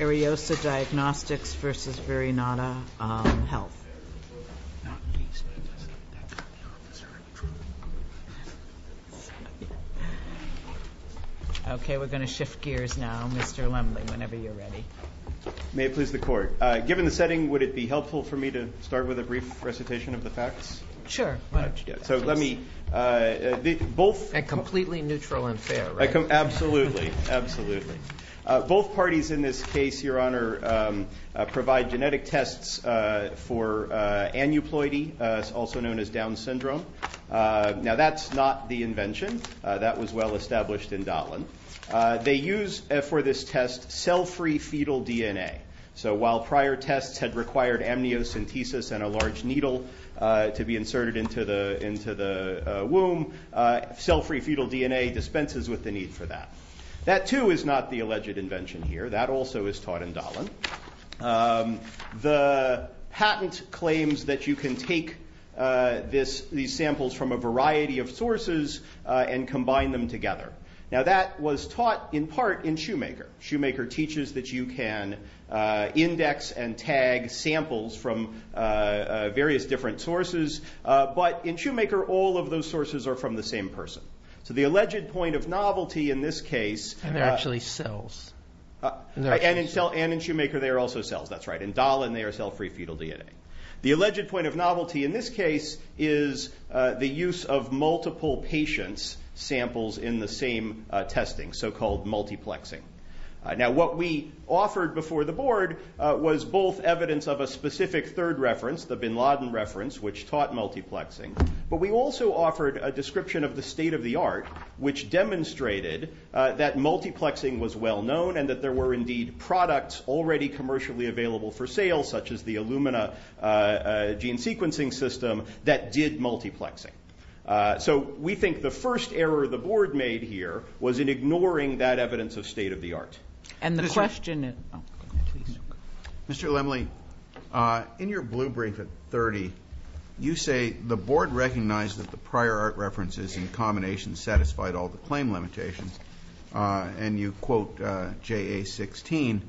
Ariosa Diagnostics v. Verinata Health. Okay, we're going to shift gears now, Mr. Lemley, whenever you're ready. May it please the Court. Given the setting, would it be helpful for me to start with a brief recitation of the facts? Sure, why don't you do it. So let me, both- And completely neutral and fair, right? Absolutely, absolutely. Both parties in this case, Your Honor, provide genetic tests for aneuploidy, also known as Down syndrome. Now that's not the invention. That was well established in Dotland. They use for this test cell-free fetal DNA. So while prior tests had required amniocentesis and a large needle to be inserted into the womb, cell-free fetal DNA dispenses with the need for that. That, too, is not the alleged invention here. That also is taught in Dotland. The patent claims that you can take these samples from a variety of sources and combine them together. Now that was taught in part in Shoemaker. Shoemaker teaches that you can index and tag samples from various different sources. But in Shoemaker, all of those sources are from the same person. So the alleged point of novelty in this case- And they're actually cells. And in Shoemaker, they are also cells. That's right. In Dotland, they are cell-free fetal DNA. The alleged point of novelty in this case is the use of multiple patients' samples in the same testing, so-called multiplexing. Now what we offered before the Board was both evidence of a specific third reference, the Bin Laden reference, which taught multiplexing, but we also offered a description of the state-of-the-art, which demonstrated that multiplexing was well-known and that there were indeed products already commercially available for sale, such as the Illumina gene sequencing system, that did multiplexing. So we think the first error the Board made here was in ignoring that evidence of state-of-the-art. And the question is- Mr. Lemley, in your blue brief at 30, you say the Board recognized that the prior art references in combination satisfied all the claim limitations, and you quote JA-16.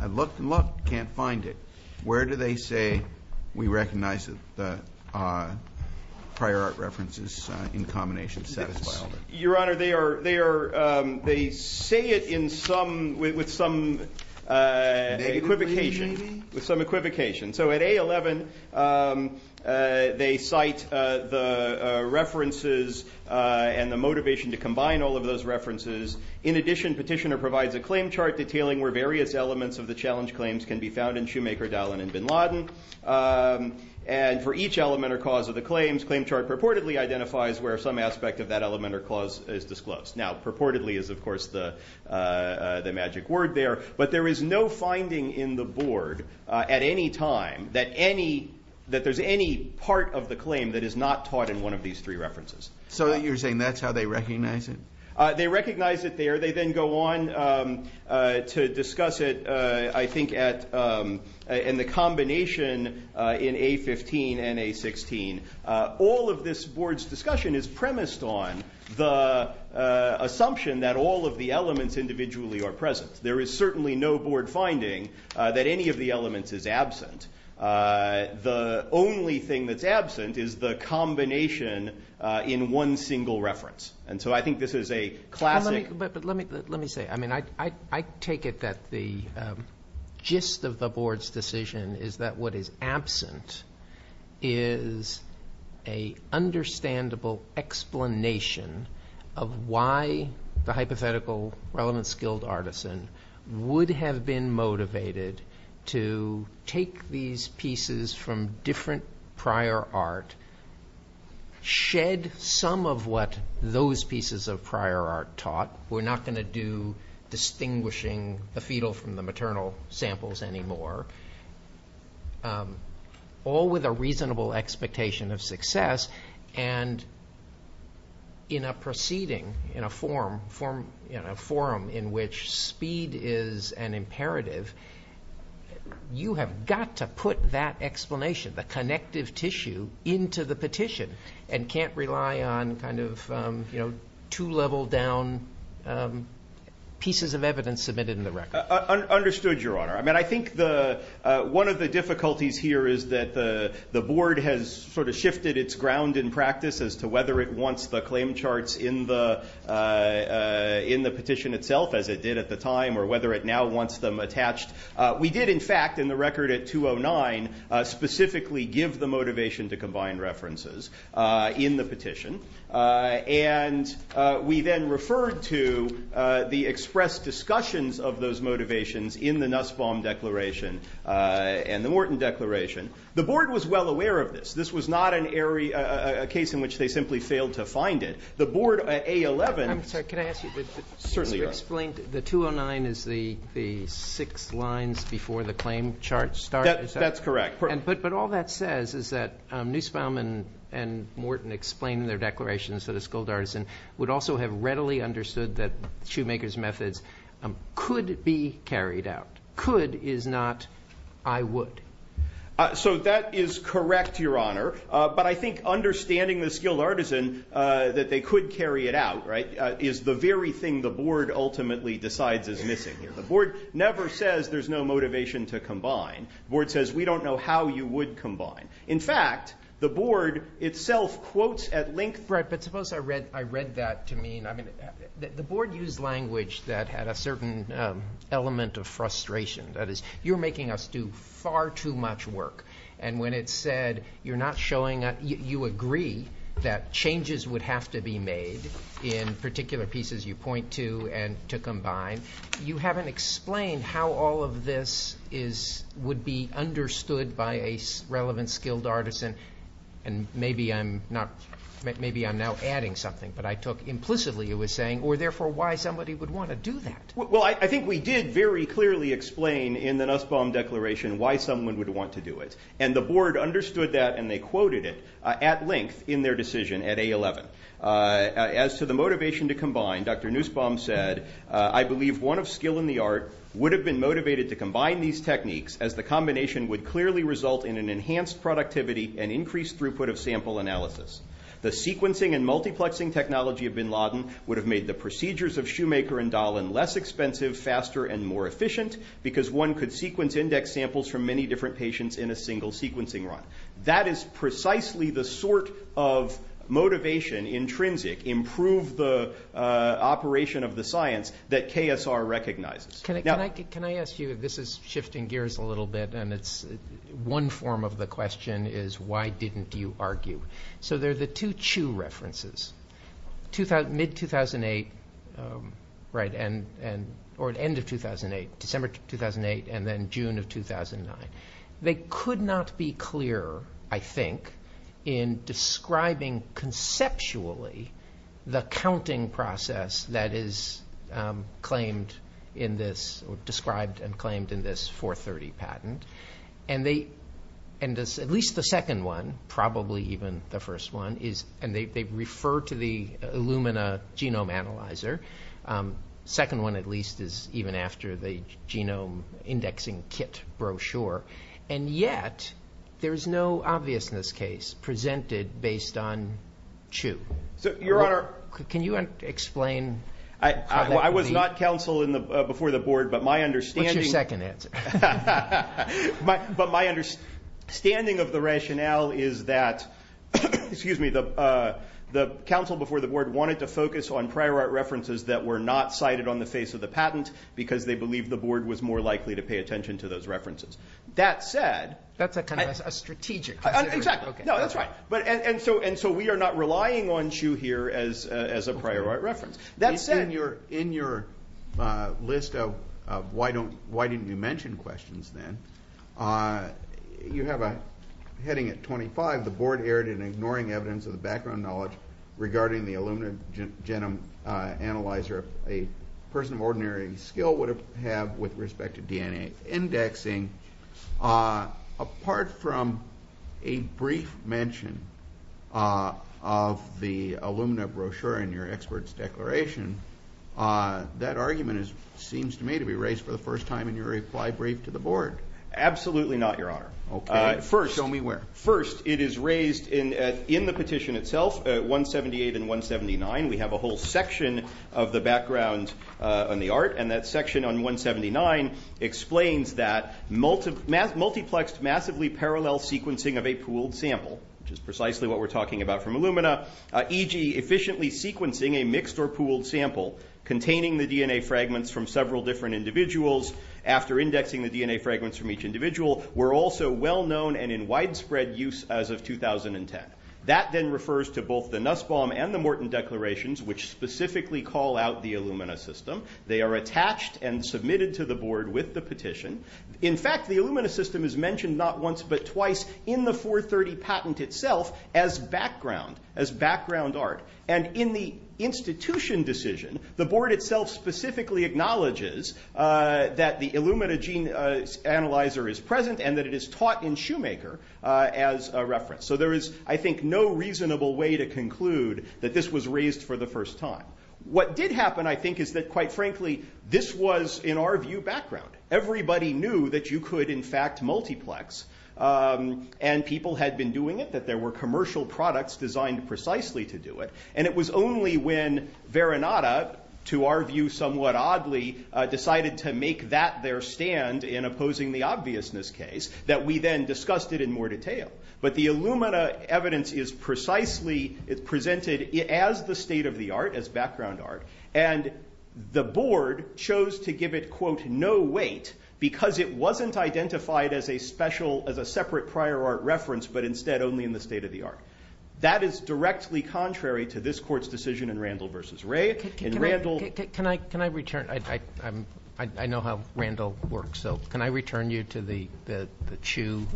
I looked and looked, can't find it. Where do they say we recognize that the prior art references in combination satisfied all the- Your Honor, they say it with some equivocation. So at A11, they cite the references and the motivation to combine all of those references. In addition, Petitioner provides a claim chart detailing where various elements of the challenge claims can be found in Shoemaker, Dallin, and Bin Laden. And for each element or cause of the claims, claim chart purportedly identifies where some aspect of that element or cause is disclosed. Now, purportedly is, of course, the magic word there. But there is no finding in the Board at any time that any- that there's any part of the claim that is not taught in one of these three references. So you're saying that's how they recognize it? They recognize it there. They then go on to discuss it, I think, in the combination in A15 and A16. All of this Board's discussion is premised on the assumption that all of the elements individually are present. There is certainly no Board finding that any of the elements is absent. The only thing that's absent is the combination in one single reference. And so I think this is a classic- But let me say, I mean, I take it that the gist of the Board's decision is that what is absent is a understandable explanation of why the hypothetical relevant skilled artisan would have been motivated to take these pieces from different prior art, shed some of what those pieces of prior art taught. We're not going to do distinguishing the fetal from the maternal samples anymore. All with a reasonable expectation of success. And in a proceeding, in a forum in which speed is an imperative, you have got to put that explanation, the connective tissue, into the petition and can't rely on kind of two-level-down pieces of evidence submitted in the record. Understood, Your Honor. I mean, I think one of the difficulties here is that the Board has sort of shifted its ground in practice as to whether it wants the claim charts in the petition itself, as it did at the time, or whether it now wants them attached. We did, in fact, in the record at 209, specifically give the motivation to combine references in the petition. And we then referred to the expressed discussions of those motivations in the Nussbaum Declaration and the Morton Declaration. The Board was well aware of this. This was not an area, a case in which they simply failed to find it. The Board at A11- I'm sorry, can I ask you- Certainly, Your Honor. The 209 is the six lines before the claim chart starts? That's correct. But all that says is that Nussbaum and Morton explained in their declarations that a skilled artisan would also have readily understood that shoemakers' methods could be carried out. Could is not I would. So that is correct, Your Honor. But I think understanding the skilled artisan, that they could carry it out, right, is the very thing the Board ultimately decides is missing here. The Board never says there's no motivation to combine. The Board says we don't know how you would combine. In fact, the Board itself quotes at length- Right, but suppose I read that to mean- The Board used language that had a certain element of frustration. That is, you're making us do far too much work. And when it said you're not showing up, you agree that changes would have to be made in particular pieces you point to and to combine. You haven't explained how all of this would be understood by a relevant skilled artisan. And maybe I'm now adding something, but I took implicitly, you were saying, or therefore why somebody would want to do that. Well, I think we did very clearly explain in the Nussbaum Declaration why someone would want to do it. And the Board understood that, and they quoted it at length in their decision at A-11. As to the motivation to combine, Dr. Nussbaum said, I believe one of skill in the art would have been motivated to combine these techniques as the combination would clearly result in an enhanced productivity and increased throughput of sample analysis. The sequencing and multiplexing technology of Bin Laden would have made the procedures of Shoemaker and Dahlin less expensive, faster, and more efficient, because one could sequence index samples from many different patients in a single sequencing run. That is precisely the sort of motivation, intrinsic, improve the operation of the science that KSR recognizes. Can I ask you, this is shifting gears a little bit, and one form of the question is why didn't you argue? So there are the two Chu references. Mid-2008, or end of 2008, December 2008, and then June of 2009. They could not be clearer, I think, in describing conceptually the counting process that is described and claimed in this 430 patent. And at least the second one, probably even the first one, and they refer to the Illumina genome analyzer. The second one, at least, is even after the genome indexing kit brochure. And yet, there is no obviousness case presented based on Chu. Your Honor. Can you explain? I was not counsel before the board, but my understanding... Second answer. But my understanding of the rationale is that, excuse me, the counsel before the board wanted to focus on prior art references that were not cited on the face of the patent because they believed the board was more likely to pay attention to those references. That said... That's a kind of strategic consideration. Exactly. No, that's right. And so we are not relying on Chu here as a prior art reference. That said, in your list of why didn't you mention questions then, you have a heading at 25, the board erred in ignoring evidence of the background knowledge regarding the Illumina genome analyzer. A person of ordinary skill would have with respect to DNA indexing. Apart from a brief mention of the Illumina brochure in your expert's declaration, that argument seems to me to be raised for the first time in your reply brief to the board. Absolutely not, Your Honor. Okay. Show me where. First, it is raised in the petition itself, 178 and 179. We have a whole section of the background on the art, and that section on 179 explains that multiplexed massively parallel sequencing of a pooled sample, which is precisely what we're talking about from Illumina, e.g. efficiently sequencing a mixed or pooled sample containing the DNA fragments from several different individuals after indexing the DNA fragments from each individual, were also well known and in widespread use as of 2010. That then refers to both the Nussbaum and the Morton declarations, which specifically call out the Illumina system. They are attached and submitted to the board with the petition. In fact, the Illumina system is mentioned not once but twice in the 430 patent itself as background art. And in the institution decision, the board itself specifically acknowledges that the Illumina gene analyzer is present and that it is taught in Shoemaker as a reference. So there is, I think, no reasonable way to conclude that this was raised for the first time. What did happen, I think, is that, quite frankly, this was, in our view, background. Everybody knew that you could, in fact, multiplex. And people had been doing it, that there were commercial products designed precisely to do it. And it was only when Veronata, to our view somewhat oddly, decided to make that their stand in opposing the obviousness case that we then discussed it in more detail. But the Illumina evidence is presented as the state of the art, as background art. And the board chose to give it, quote, no weight because it wasn't identified as a separate prior art reference but instead only in the state of the art. That is directly contrary to this court's decision in Randall v. Ray. Can I return? I know how Randall works. So can I return you to the Chu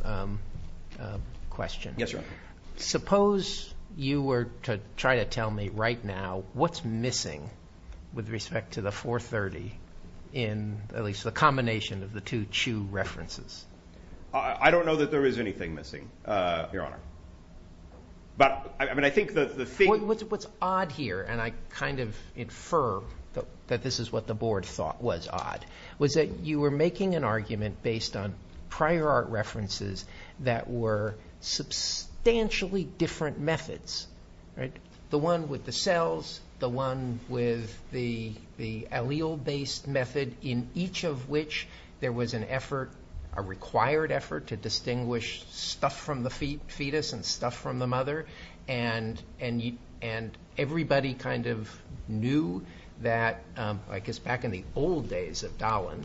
question? Yes, Your Honor. Suppose you were to try to tell me right now what's missing with respect to the 430 in at least the combination of the two Chu references. I don't know that there is anything missing, Your Honor. But, I mean, I think the thing What's odd here, and I kind of infer that this is what the board thought was odd, was that you were making an argument based on prior art references that were substantially different methods. The one with the cells, the one with the allele-based method, in each of which there was an effort, a required effort, to distinguish stuff from the fetus and stuff from the mother. And everybody kind of knew that, I guess, back in the old days of Dahlin,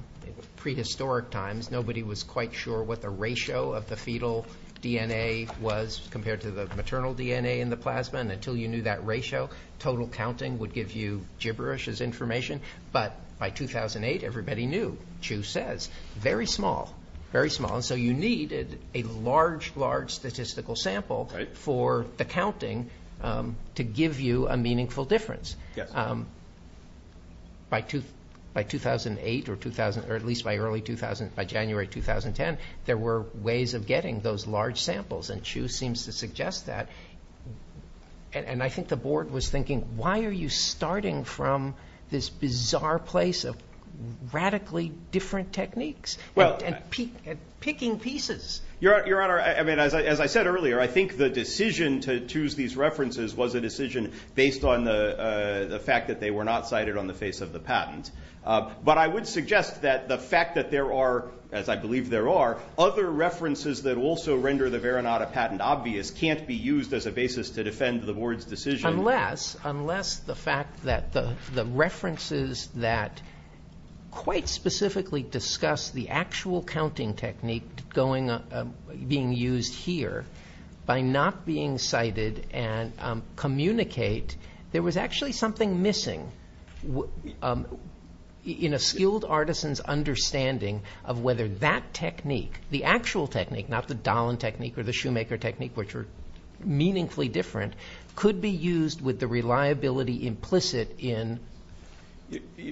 prehistoric times, nobody was quite sure what the ratio of the fetal DNA was compared to the maternal DNA in the plasma. And until you knew that ratio, total counting would give you gibberish as information. But by 2008, everybody knew, Chu says, very small, very small. And so you needed a large, large statistical sample for the counting to give you a meaningful difference. By 2008, or at least by early 2000, by January 2010, there were ways of getting those large samples, and Chu seems to suggest that. And I think the board was thinking, why are you starting from this bizarre place of radically different techniques? And picking pieces. Your Honor, I mean, as I said earlier, I think the decision to choose these references was a decision based on the fact that they were not cited on the face of the patent. But I would suggest that the fact that there are, as I believe there are, other references that also render the Veronata patent obvious can't be used as a basis to defend the board's decision. Unless the fact that the references that quite specifically discuss the actual counting technique being used here by not being cited and communicate, there was actually something missing in a skilled artisan's understanding of whether that technique, the actual technique, not the Dahlen technique or the Shoemaker technique, which are meaningfully different, could be used with the reliability implicit in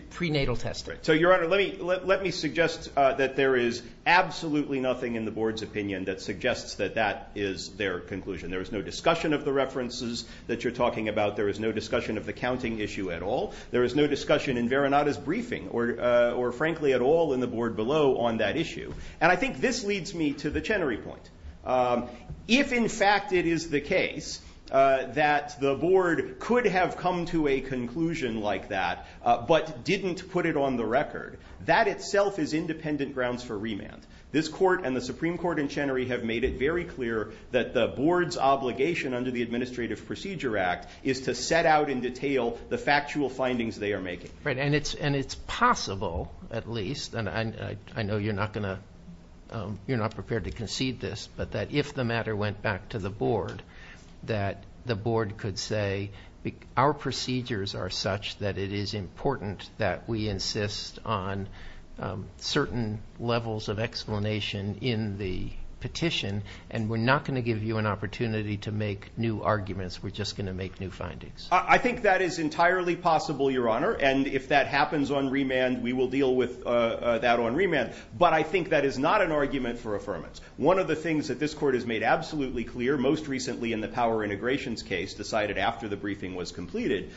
prenatal testing. So, Your Honor, let me suggest that there is absolutely nothing in the board's opinion that suggests that that is their conclusion. There is no discussion of the references that you're talking about. There is no discussion of the counting issue at all. There is no discussion in Veronata's briefing or, frankly, at all in the board below on that issue. And I think this leads me to the Chenery point. If, in fact, it is the case that the board could have come to a conclusion like that but didn't put it on the record, that itself is independent grounds for remand. This court and the Supreme Court in Chenery have made it very clear that the board's obligation under the Administrative Procedure Act is to set out in detail the factual findings they are making. Right, and it's possible, at least, and I know you're not prepared to concede this, but that if the matter went back to the board, that the board could say, our procedures are such that it is important that we insist on certain levels of explanation in the petition, and we're not going to give you an opportunity to make new arguments. We're just going to make new findings. I think that is entirely possible, Your Honor, and if that happens on remand, we will deal with that on remand. But I think that is not an argument for affirmance. One of the things that this court has made absolutely clear, most recently in the power integrations case decided after the briefing was completed,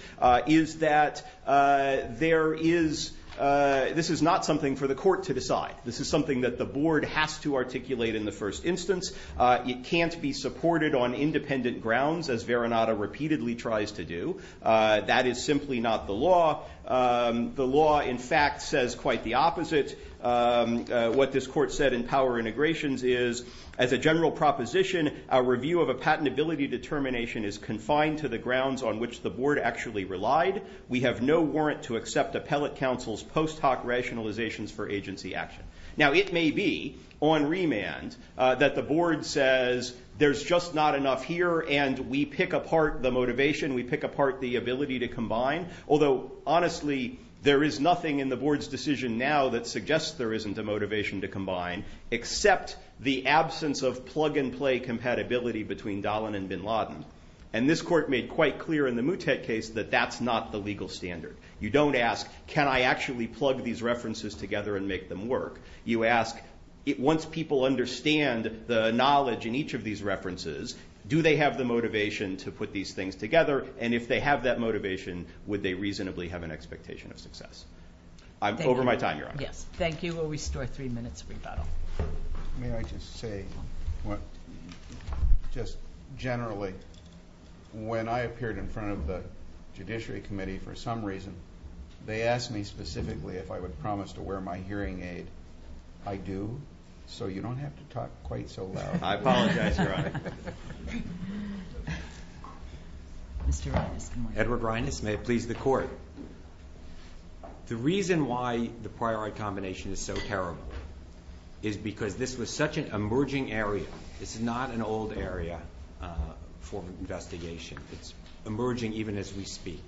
is that this is not something for the court to decide. This is something that the board has to articulate in the first instance. It can't be supported on independent grounds, as Veronata repeatedly tries to do. That is simply not the law. The law, in fact, says quite the opposite. What this court said in power integrations is, as a general proposition, a review of a patentability determination is confined to the grounds on which the board actually relied. We have no warrant to accept appellate counsel's post hoc rationalizations for agency action. Now, it may be on remand that the board says there's just not enough here, and we pick apart the motivation, we pick apart the ability to combine, although, honestly, there is nothing in the board's decision now that suggests there isn't a motivation to combine, except the absence of plug-and-play compatibility between Dahlin and Bin Laden. And this court made quite clear in the Moutet case that that's not the legal standard. You don't ask, can I actually plug these references together and make them work? You ask, once people understand the knowledge in each of these references, do they have the motivation to put these things together, and if they have that motivation, would they reasonably have an expectation of success? Over my time, Your Honor. Thank you. We'll restore three minutes of rebuttal. May I just say, just generally, when I appeared in front of the Judiciary Committee for some reason, they asked me specifically if I would promise to wear my hearing aid. I do, so you don't have to talk quite so loud. I apologize, Your Honor. Mr. Reines, good morning. Edward Reines, may it please the Court. The reason why the priori combination is so terrible is because this was such an emerging area. It's not an old area for investigation. It's emerging even as we speak.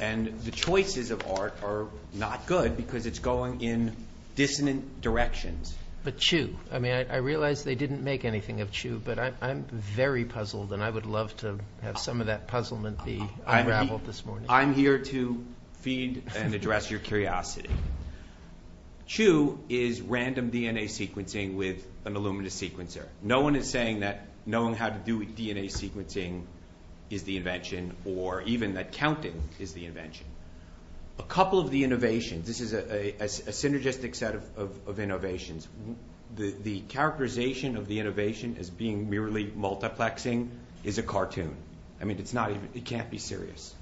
And the choices of art are not good because it's going in dissonant directions. But Chew, I mean, I realize they didn't make anything of Chew, but I'm very puzzled and I would love to have some of that puzzlement be unraveled this morning. I'm here to feed and address your curiosity. Chew is random DNA sequencing with an Illumina sequencer. No one is saying that knowing how to do DNA sequencing is the invention, or even that counting is the invention. A couple of the innovations, this is a synergistic set of innovations. The characterization of the innovation as being merely multiplexing is a cartoon. I mean, it can't be serious.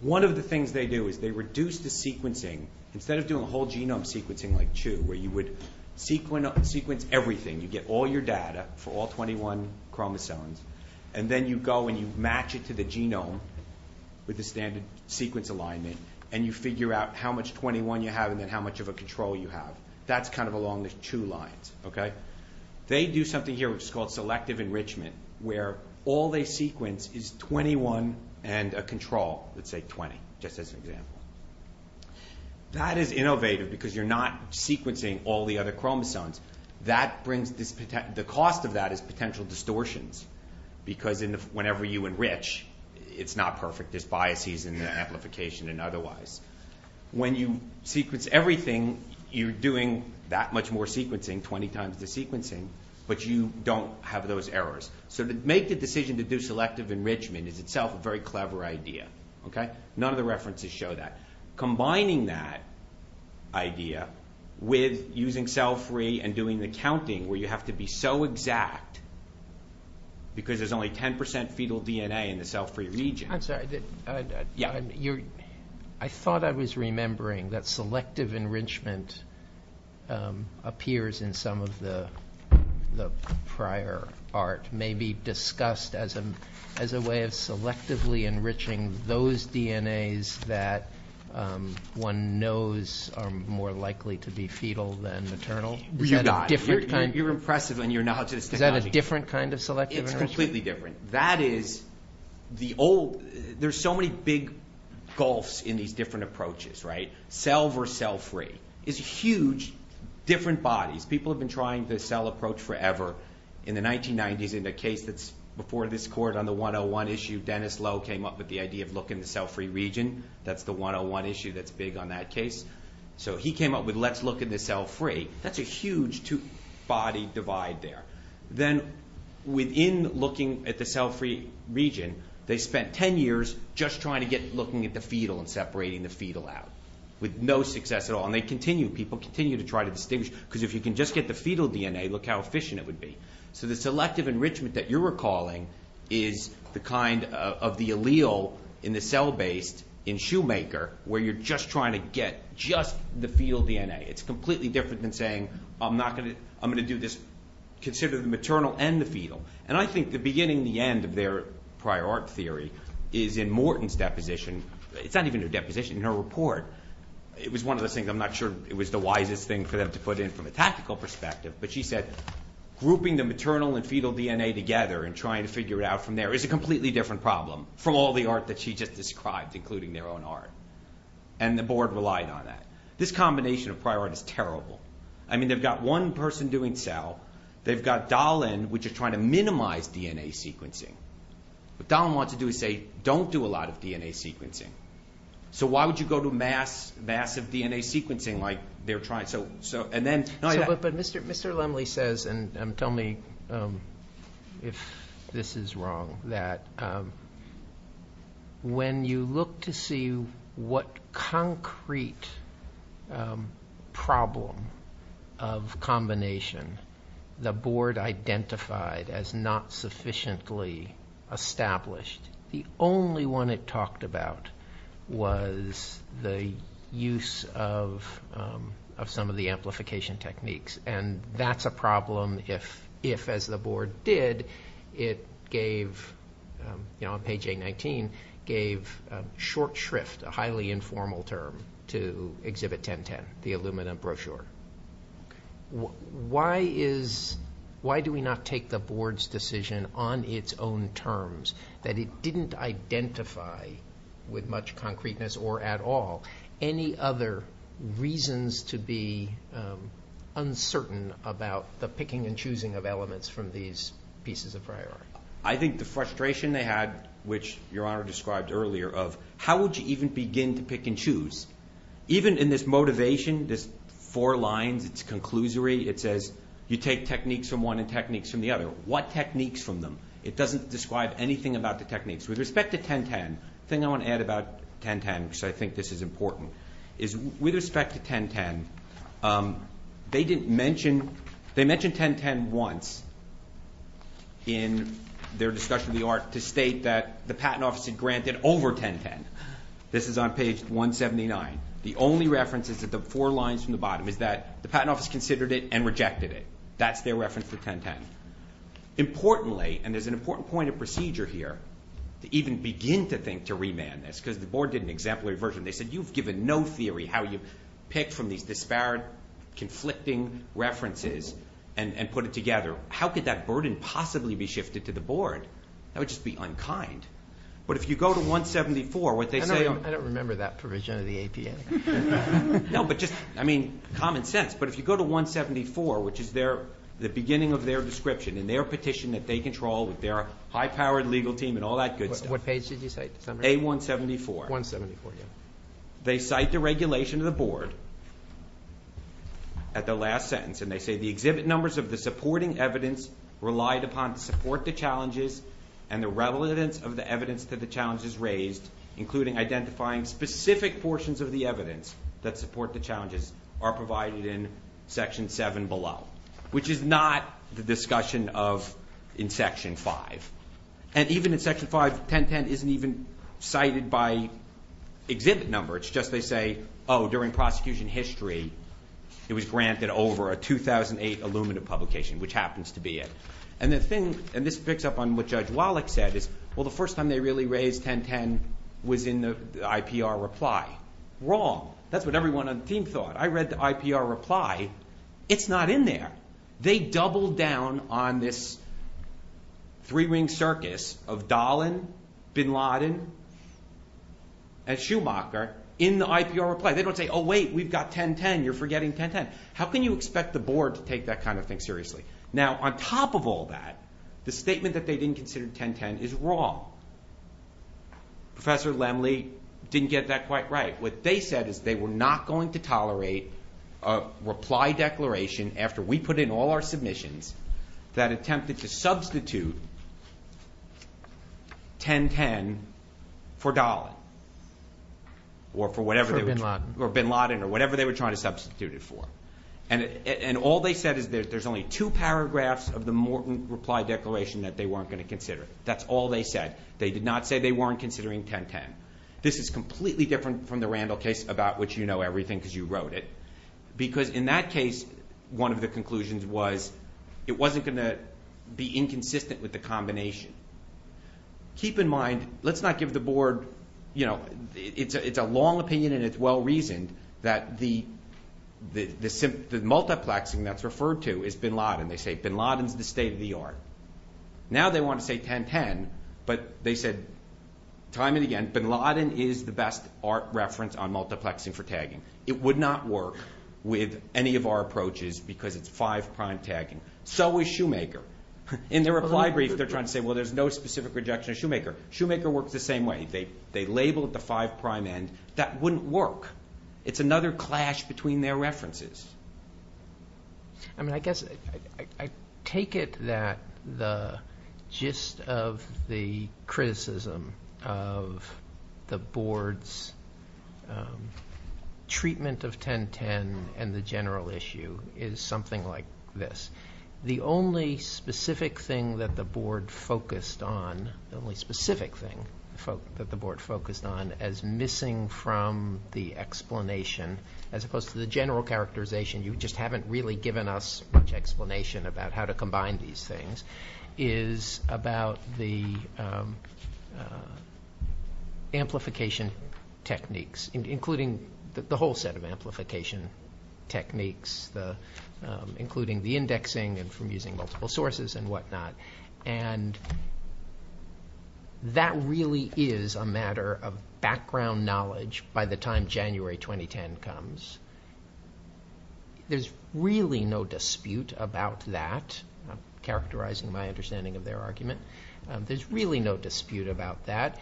One of the things they do is they reduce the sequencing. Instead of doing a whole genome sequencing like Chew, where you would sequence everything, you get all your data for all 21 chromosomes, and then you go and you match it to the genome with the standard sequence alignment, and you figure out how much 21 you have and then how much of a control you have. That's kind of along the Chew lines. They do something here which is called selective enrichment, where all they sequence is 21 and a control, let's say 20, just as an example. That is innovative because you're not sequencing all the other chromosomes. The cost of that is potential distortions because whenever you enrich, it's not perfect. There's biases in the amplification and otherwise. When you sequence everything, you're doing that much more sequencing, 20 times the sequencing, but you don't have those errors. So to make the decision to do selective enrichment is itself a very clever idea. None of the references show that. Combining that idea with using cell-free and doing the counting, where you have to be so exact because there's only 10 percent fetal DNA in the cell-free region. I'm sorry. I thought I was remembering that selective enrichment appears in some of the prior art, maybe discussed as a way of selectively enriching those DNAs that one knows are more likely to be fetal than maternal. You got it. You're impressive in your knowledge of this technology. Is that a different kind of selective enrichment? It's completely different. That is the old – there's so many big gulfs in these different approaches, right? Cell-versus-cell-free is huge, different bodies. People have been trying the cell approach forever. In the 1990s, in a case that's before this court on the 101 issue, Dennis Lowe came up with the idea of looking at the cell-free region. That's the 101 issue that's big on that case. So he came up with let's look at the cell-free. That's a huge body divide there. Then within looking at the cell-free region, they spent 10 years just trying to get looking at the fetal and separating the fetal out, with no success at all. And they continue, people continue to try to distinguish because if you can just get the fetal DNA, look how efficient it would be. So the selective enrichment that you're recalling is the kind of the allele in the cell-based in Shoemaker where you're just trying to get just the fetal DNA. It's completely different than saying I'm going to do this, consider the maternal and the fetal. And I think the beginning and the end of their prior art theory is in Morton's deposition. It's not even her deposition, her report. It was one of those things, I'm not sure it was the wisest thing for them to put in from a tactical perspective, but she said grouping the maternal and fetal DNA together and trying to figure it out from there is a completely different problem from all the art that she just described, including their own art. And the board relied on that. This combination of prior art is terrible. I mean they've got one person doing cell. They've got Dahlin, which is trying to minimize DNA sequencing. What Dahlin wants to do is say don't do a lot of DNA sequencing. So why would you go to massive DNA sequencing like they're trying? But Mr. Lemley says, and tell me if this is wrong, that when you look to see what concrete problem of combination the board identified as not sufficiently established, the only one it talked about was the use of some of the amplification techniques. And that's a problem if, as the board did, it gave, on page A19, gave short shrift, a highly informal term, to exhibit 1010, the aluminum brochure. Why do we not take the board's decision on its own terms, that it didn't identify with much concreteness or at all any other reasons to be uncertain about the picking and choosing of elements from these pieces of prior art? I think the frustration they had, which Your Honor described earlier, of how would you even begin to pick and choose, even in this motivation, this four lines, it's conclusory. It says you take techniques from one and techniques from the other. What techniques from them? It doesn't describe anything about the techniques. With respect to 1010, the thing I want to add about 1010, because I think this is important, is with respect to 1010, they mentioned 1010 once in their discussion of the art to state that the Patent Office had granted over 1010. This is on page 179. The only reference is that the four lines from the bottom is that the Patent Office considered it and rejected it. That's their reference to 1010. Importantly, and there's an important point of procedure here, to even begin to think to remand this, because the board did an exemplary version. They said you've given no theory how you pick from these disparate, conflicting references and put it together. How could that burden possibly be shifted to the board? That would just be unkind. But if you go to 174, what they say on- I don't remember that provision of the APA. No, but just, I mean, common sense. But if you go to 174, which is the beginning of their description and their petition that they control with their high-powered legal team and all that good stuff. What page did you cite? A174. 174, yeah. They cite the regulation of the board at the last sentence, and they say the exhibit numbers of the supporting evidence relied upon to support the challenges and the relevance of the evidence to the challenges raised, including identifying specific portions of the evidence that support the challenges, are provided in Section 7 below, which is not the discussion in Section 5. And even in Section 5, 1010 isn't even cited by exhibit number. It's just they say, oh, during prosecution history, it was granted over a 2008 Illumina publication, which happens to be it. And the thing, and this picks up on what Judge Wallach said, is, well, the first time they really raised 1010 was in the IPR reply. Wrong. That's what everyone on the team thought. I read the IPR reply. It's not in there. They doubled down on this three-ring circus of Dahlen, Bin Laden, and Schumacher in the IPR reply. They don't say, oh, wait, we've got 1010. You're forgetting 1010. How can you expect the board to take that kind of thing seriously? Now, on top of all that, the statement that they didn't consider 1010 is wrong. Professor Lemley didn't get that quite right. What they said is they were not going to tolerate a reply declaration after we put in all our submissions that attempted to substitute 1010 for Dahlen or for whatever they were trying to substitute it for. And all they said is there's only two paragraphs of the Morton reply declaration that they weren't going to consider. That's all they said. They did not say they weren't considering 1010. This is completely different from the Randall case, about which you know everything because you wrote it. Because in that case, one of the conclusions was it wasn't going to be inconsistent with the combination. Keep in mind, let's not give the board, you know, it's a long opinion, and it's well-reasoned that the multiplexing that's referred to is Bin Laden. They say Bin Laden's the state of the art. Now they want to say 1010, but they said time and again, Bin Laden is the best art reference on multiplexing for tagging. It would not work with any of our approaches because it's five-prime tagging. So is Shoemaker. In their reply brief, they're trying to say, well, there's no specific rejection of Shoemaker. Shoemaker works the same way. They label it the five-prime end. That wouldn't work. It's another clash between their references. I mean, I guess I take it that the gist of the criticism of the board's treatment of 1010 and the general issue is something like this. The only specific thing that the board focused on, as missing from the explanation, as opposed to the general characterization, you just haven't really given us much explanation about how to combine these things, is about the amplification techniques, including the whole set of amplification techniques, including the indexing and from using multiple sources and whatnot. And that really is a matter of background knowledge by the time January 2010 comes. There's really no dispute about that. I'm characterizing my understanding of their argument. There's really no dispute about that.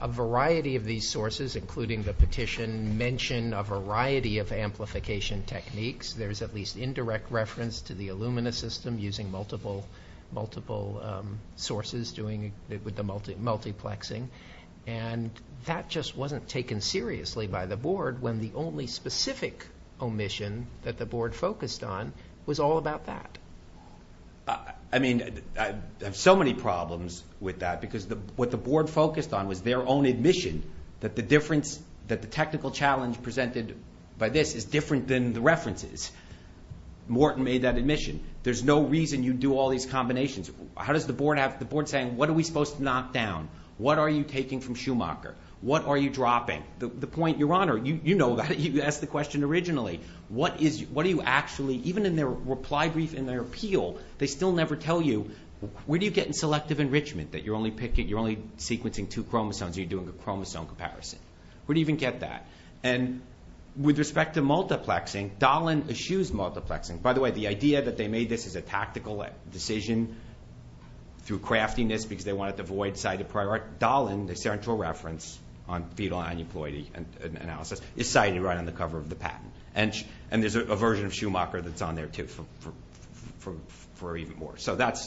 A variety of these sources, including the petition, mention a variety of amplification techniques. There's at least indirect reference to the Illumina system using multiple sources, doing it with the multiplexing. And that just wasn't taken seriously by the board when the only specific omission that the board focused on was all about that. I mean, I have so many problems with that because what the board focused on was their own admission that the technical challenge presented by this is different than the references. Morton made that admission. There's no reason you do all these combinations. How does the board have the board saying, what are we supposed to knock down? What are you taking from Schumacher? What are you dropping? The point, Your Honor, you know that. You asked the question originally. What do you actually, even in their reply brief and their appeal, they still never tell you, where do you get in selective enrichment that you're only sequencing two chromosomes or you're doing a chromosome comparison? Where do you even get that? And with respect to multiplexing, Dahlin eschews multiplexing. By the way, the idea that they made this as a tactical decision through craftiness because they wanted the void side to prioritize. Dahlin, the central reference on fetal aneuploidy analysis, is cited right on the cover of the patent. And there's a version of Schumacher that's on there too for even more. So that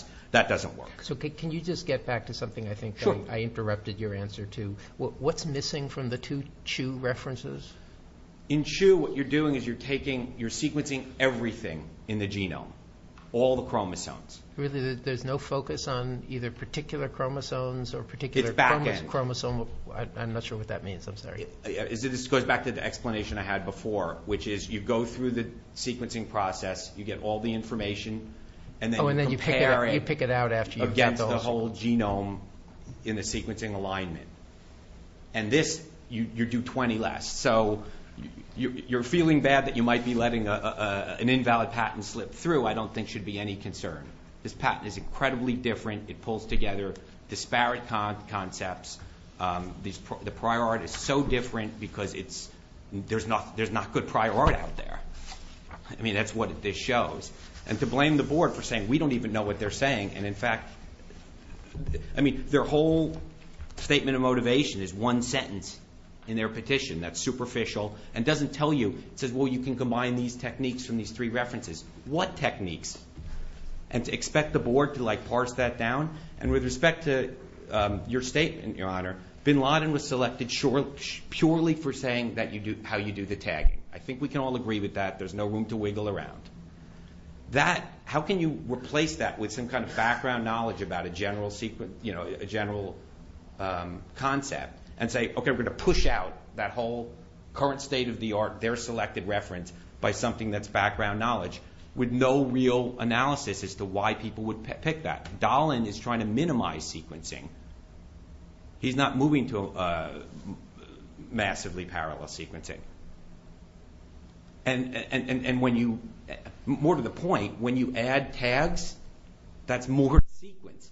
doesn't work. So can you just get back to something I think I interrupted your answer to? What's missing from the two CHU references? In CHU, what you're doing is you're sequencing everything in the genome, all the chromosomes. Really? There's no focus on either particular chromosomes or particular chromosomes? It's back end. I'm not sure what that means. I'm sorry. This goes back to the explanation I had before, which is you go through the sequencing process, you get all the information, and then you compare it against the whole genome in the sequencing alignment. And this, you do 20 less. So you're feeling bad that you might be letting an invalid patent slip through. I don't think should be any concern. This patent is incredibly different. It pulls together disparate concepts. The prior art is so different because there's not good prior art out there. I mean, that's what this shows. And to blame the board for saying, we don't even know what they're saying. And, in fact, I mean, their whole statement of motivation is one sentence in their petition. That's superficial and doesn't tell you. It says, well, you can combine these techniques from these three references. What techniques? And to expect the board to, like, parse that down? And with respect to your statement, Your Honor, bin Laden was selected purely for saying how you do the tagging. I think we can all agree with that. There's no room to wiggle around. How can you replace that with some kind of background knowledge about a general concept and say, okay, we're going to push out that whole current state of the art, their selected reference, by something that's background knowledge with no real analysis as to why people would pick that? Dahlen is trying to minimize sequencing. He's not moving to massively parallel sequencing. More to the point, when you add tags, that's more to the sequence.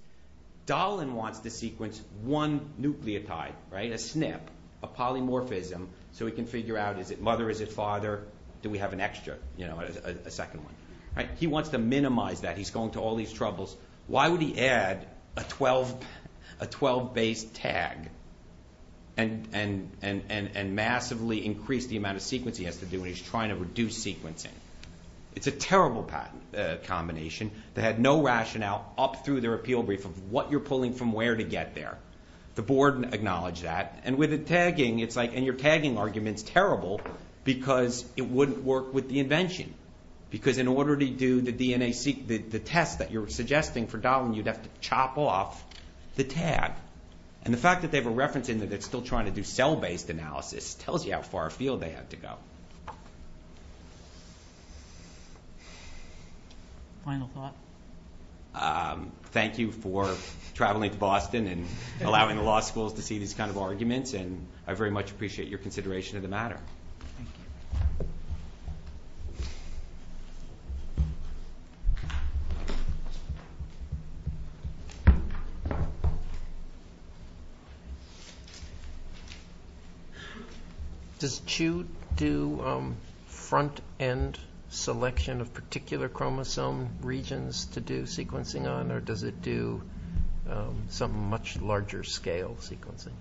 Dahlen wants to sequence one nucleotide, right, a SNP, a polymorphism, so he can figure out is it mother, is it father, do we have an extra, you know, a second one, right? He wants to minimize that. He's going to all these troubles. Why would he add a 12-base tag and massively increase the amount of sequence he has to do when he's trying to reduce sequencing? It's a terrible combination. They had no rationale up through their appeal brief of what you're pulling from where to get there. The board acknowledged that. And with the tagging, it's like, and your tagging argument's terrible because it wouldn't work with the invention because in order to do the test that you're suggesting for Dahlen, you'd have to chop off the tag. And the fact that they have a reference in there that's still trying to do cell-based analysis tells you how far afield they had to go. Final thought? Thank you for traveling to Boston and allowing the law schools to see these kind of arguments, and I very much appreciate your consideration of the matter. Thank you. Thank you. Does CHU do front-end selection of particular chromosome regions to do sequencing on, or does it do some much larger-scale sequencing?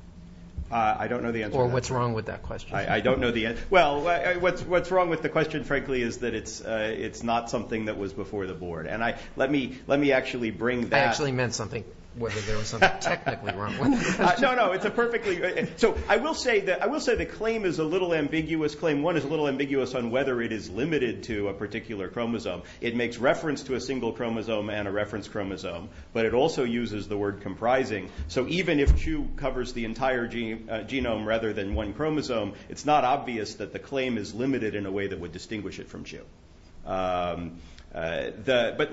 I don't know the answer to that. Or what's wrong with that question? I don't know the answer. Well, what's wrong with the question, frankly, is that it's not something that was before the board. And let me actually bring that. I actually meant something, whether there was something technically wrong with the question. No, no, it's a perfectly good question. So I will say the claim is a little ambiguous. Claim one is a little ambiguous on whether it is limited to a particular chromosome. It makes reference to a single chromosome and a reference chromosome, but it also uses the word comprising. So even if CHU covers the entire genome rather than one chromosome, it's not obvious that the claim is limited in a way that would distinguish it from CHU. But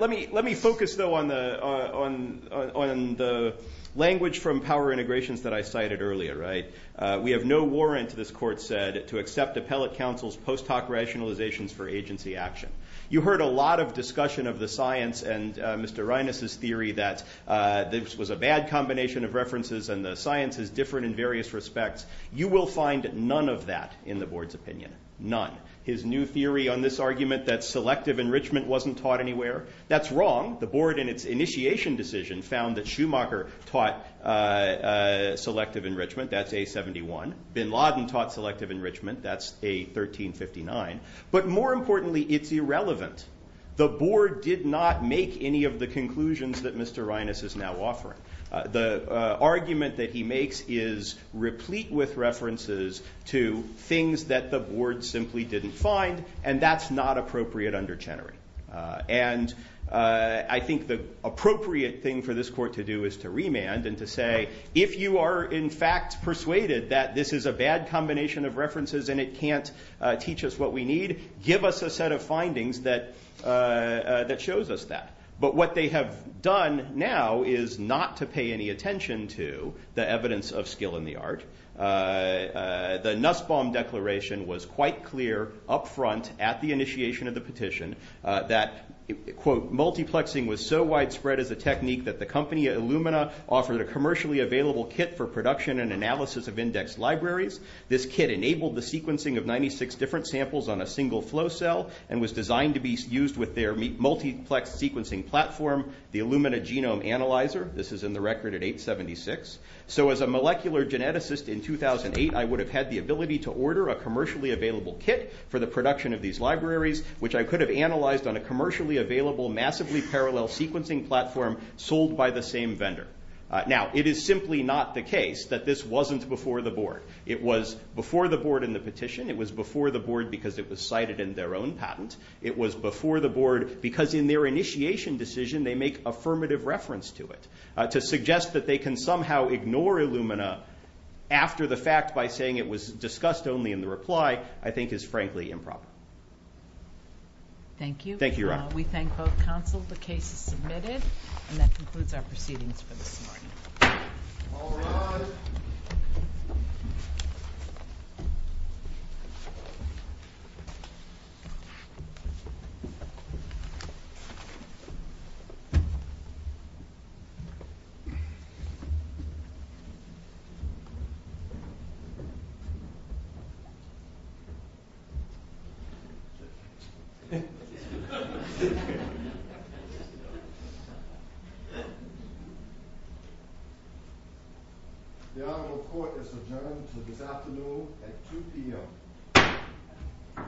let me focus, though, on the language from power integrations that I cited earlier. We have no warrant, this court said, to accept appellate counsel's post hoc rationalizations for agency action. You heard a lot of discussion of the science and Mr. Reines' theory that this was a bad combination of references and the science is different in various respects. You will find none of that in the board's opinion, none. His new theory on this argument that selective enrichment wasn't taught anywhere, that's wrong. The board in its initiation decision found that Schumacher taught selective enrichment. That's A71. Bin Laden taught selective enrichment. That's A1359. But more importantly, it's irrelevant. The board did not make any of the conclusions that Mr. Reines is now offering. The argument that he makes is replete with references to things that the board simply didn't find, and that's not appropriate under Chenery. And I think the appropriate thing for this court to do is to remand and to say, if you are in fact persuaded that this is a bad combination of references and it can't teach us what we need, give us a set of findings that shows us that. But what they have done now is not to pay any attention to the evidence of skill in the art. The Nussbaum declaration was quite clear up front at the initiation of the petition that, quote, multiplexing was so widespread as a technique that the company Illumina offered a commercially available kit for production and analysis of index libraries. This kit enabled the sequencing of 96 different samples on a single flow cell and was designed to be used with their multiplex sequencing platform, the Illumina Genome Analyzer. This is in the record at 876. So as a molecular geneticist in 2008, I would have had the ability to order a commercially available kit for the production of these libraries, which I could have analyzed on a commercially available massively parallel sequencing platform sold by the same vendor. Now, it is simply not the case that this wasn't before the board. It was before the board in the petition. It was before the board because it was cited in their own patent. It was before the board because in their initiation decision, they make affirmative reference to it. To suggest that they can somehow ignore Illumina after the fact by saying it was discussed only in the reply, I think is frankly improper. Thank you. Thank you, Your Honor. We thank both counsel. The case is submitted. And that concludes our proceedings for this morning. All rise. The Honorable Court is adjourned until this afternoon at 2 p.m.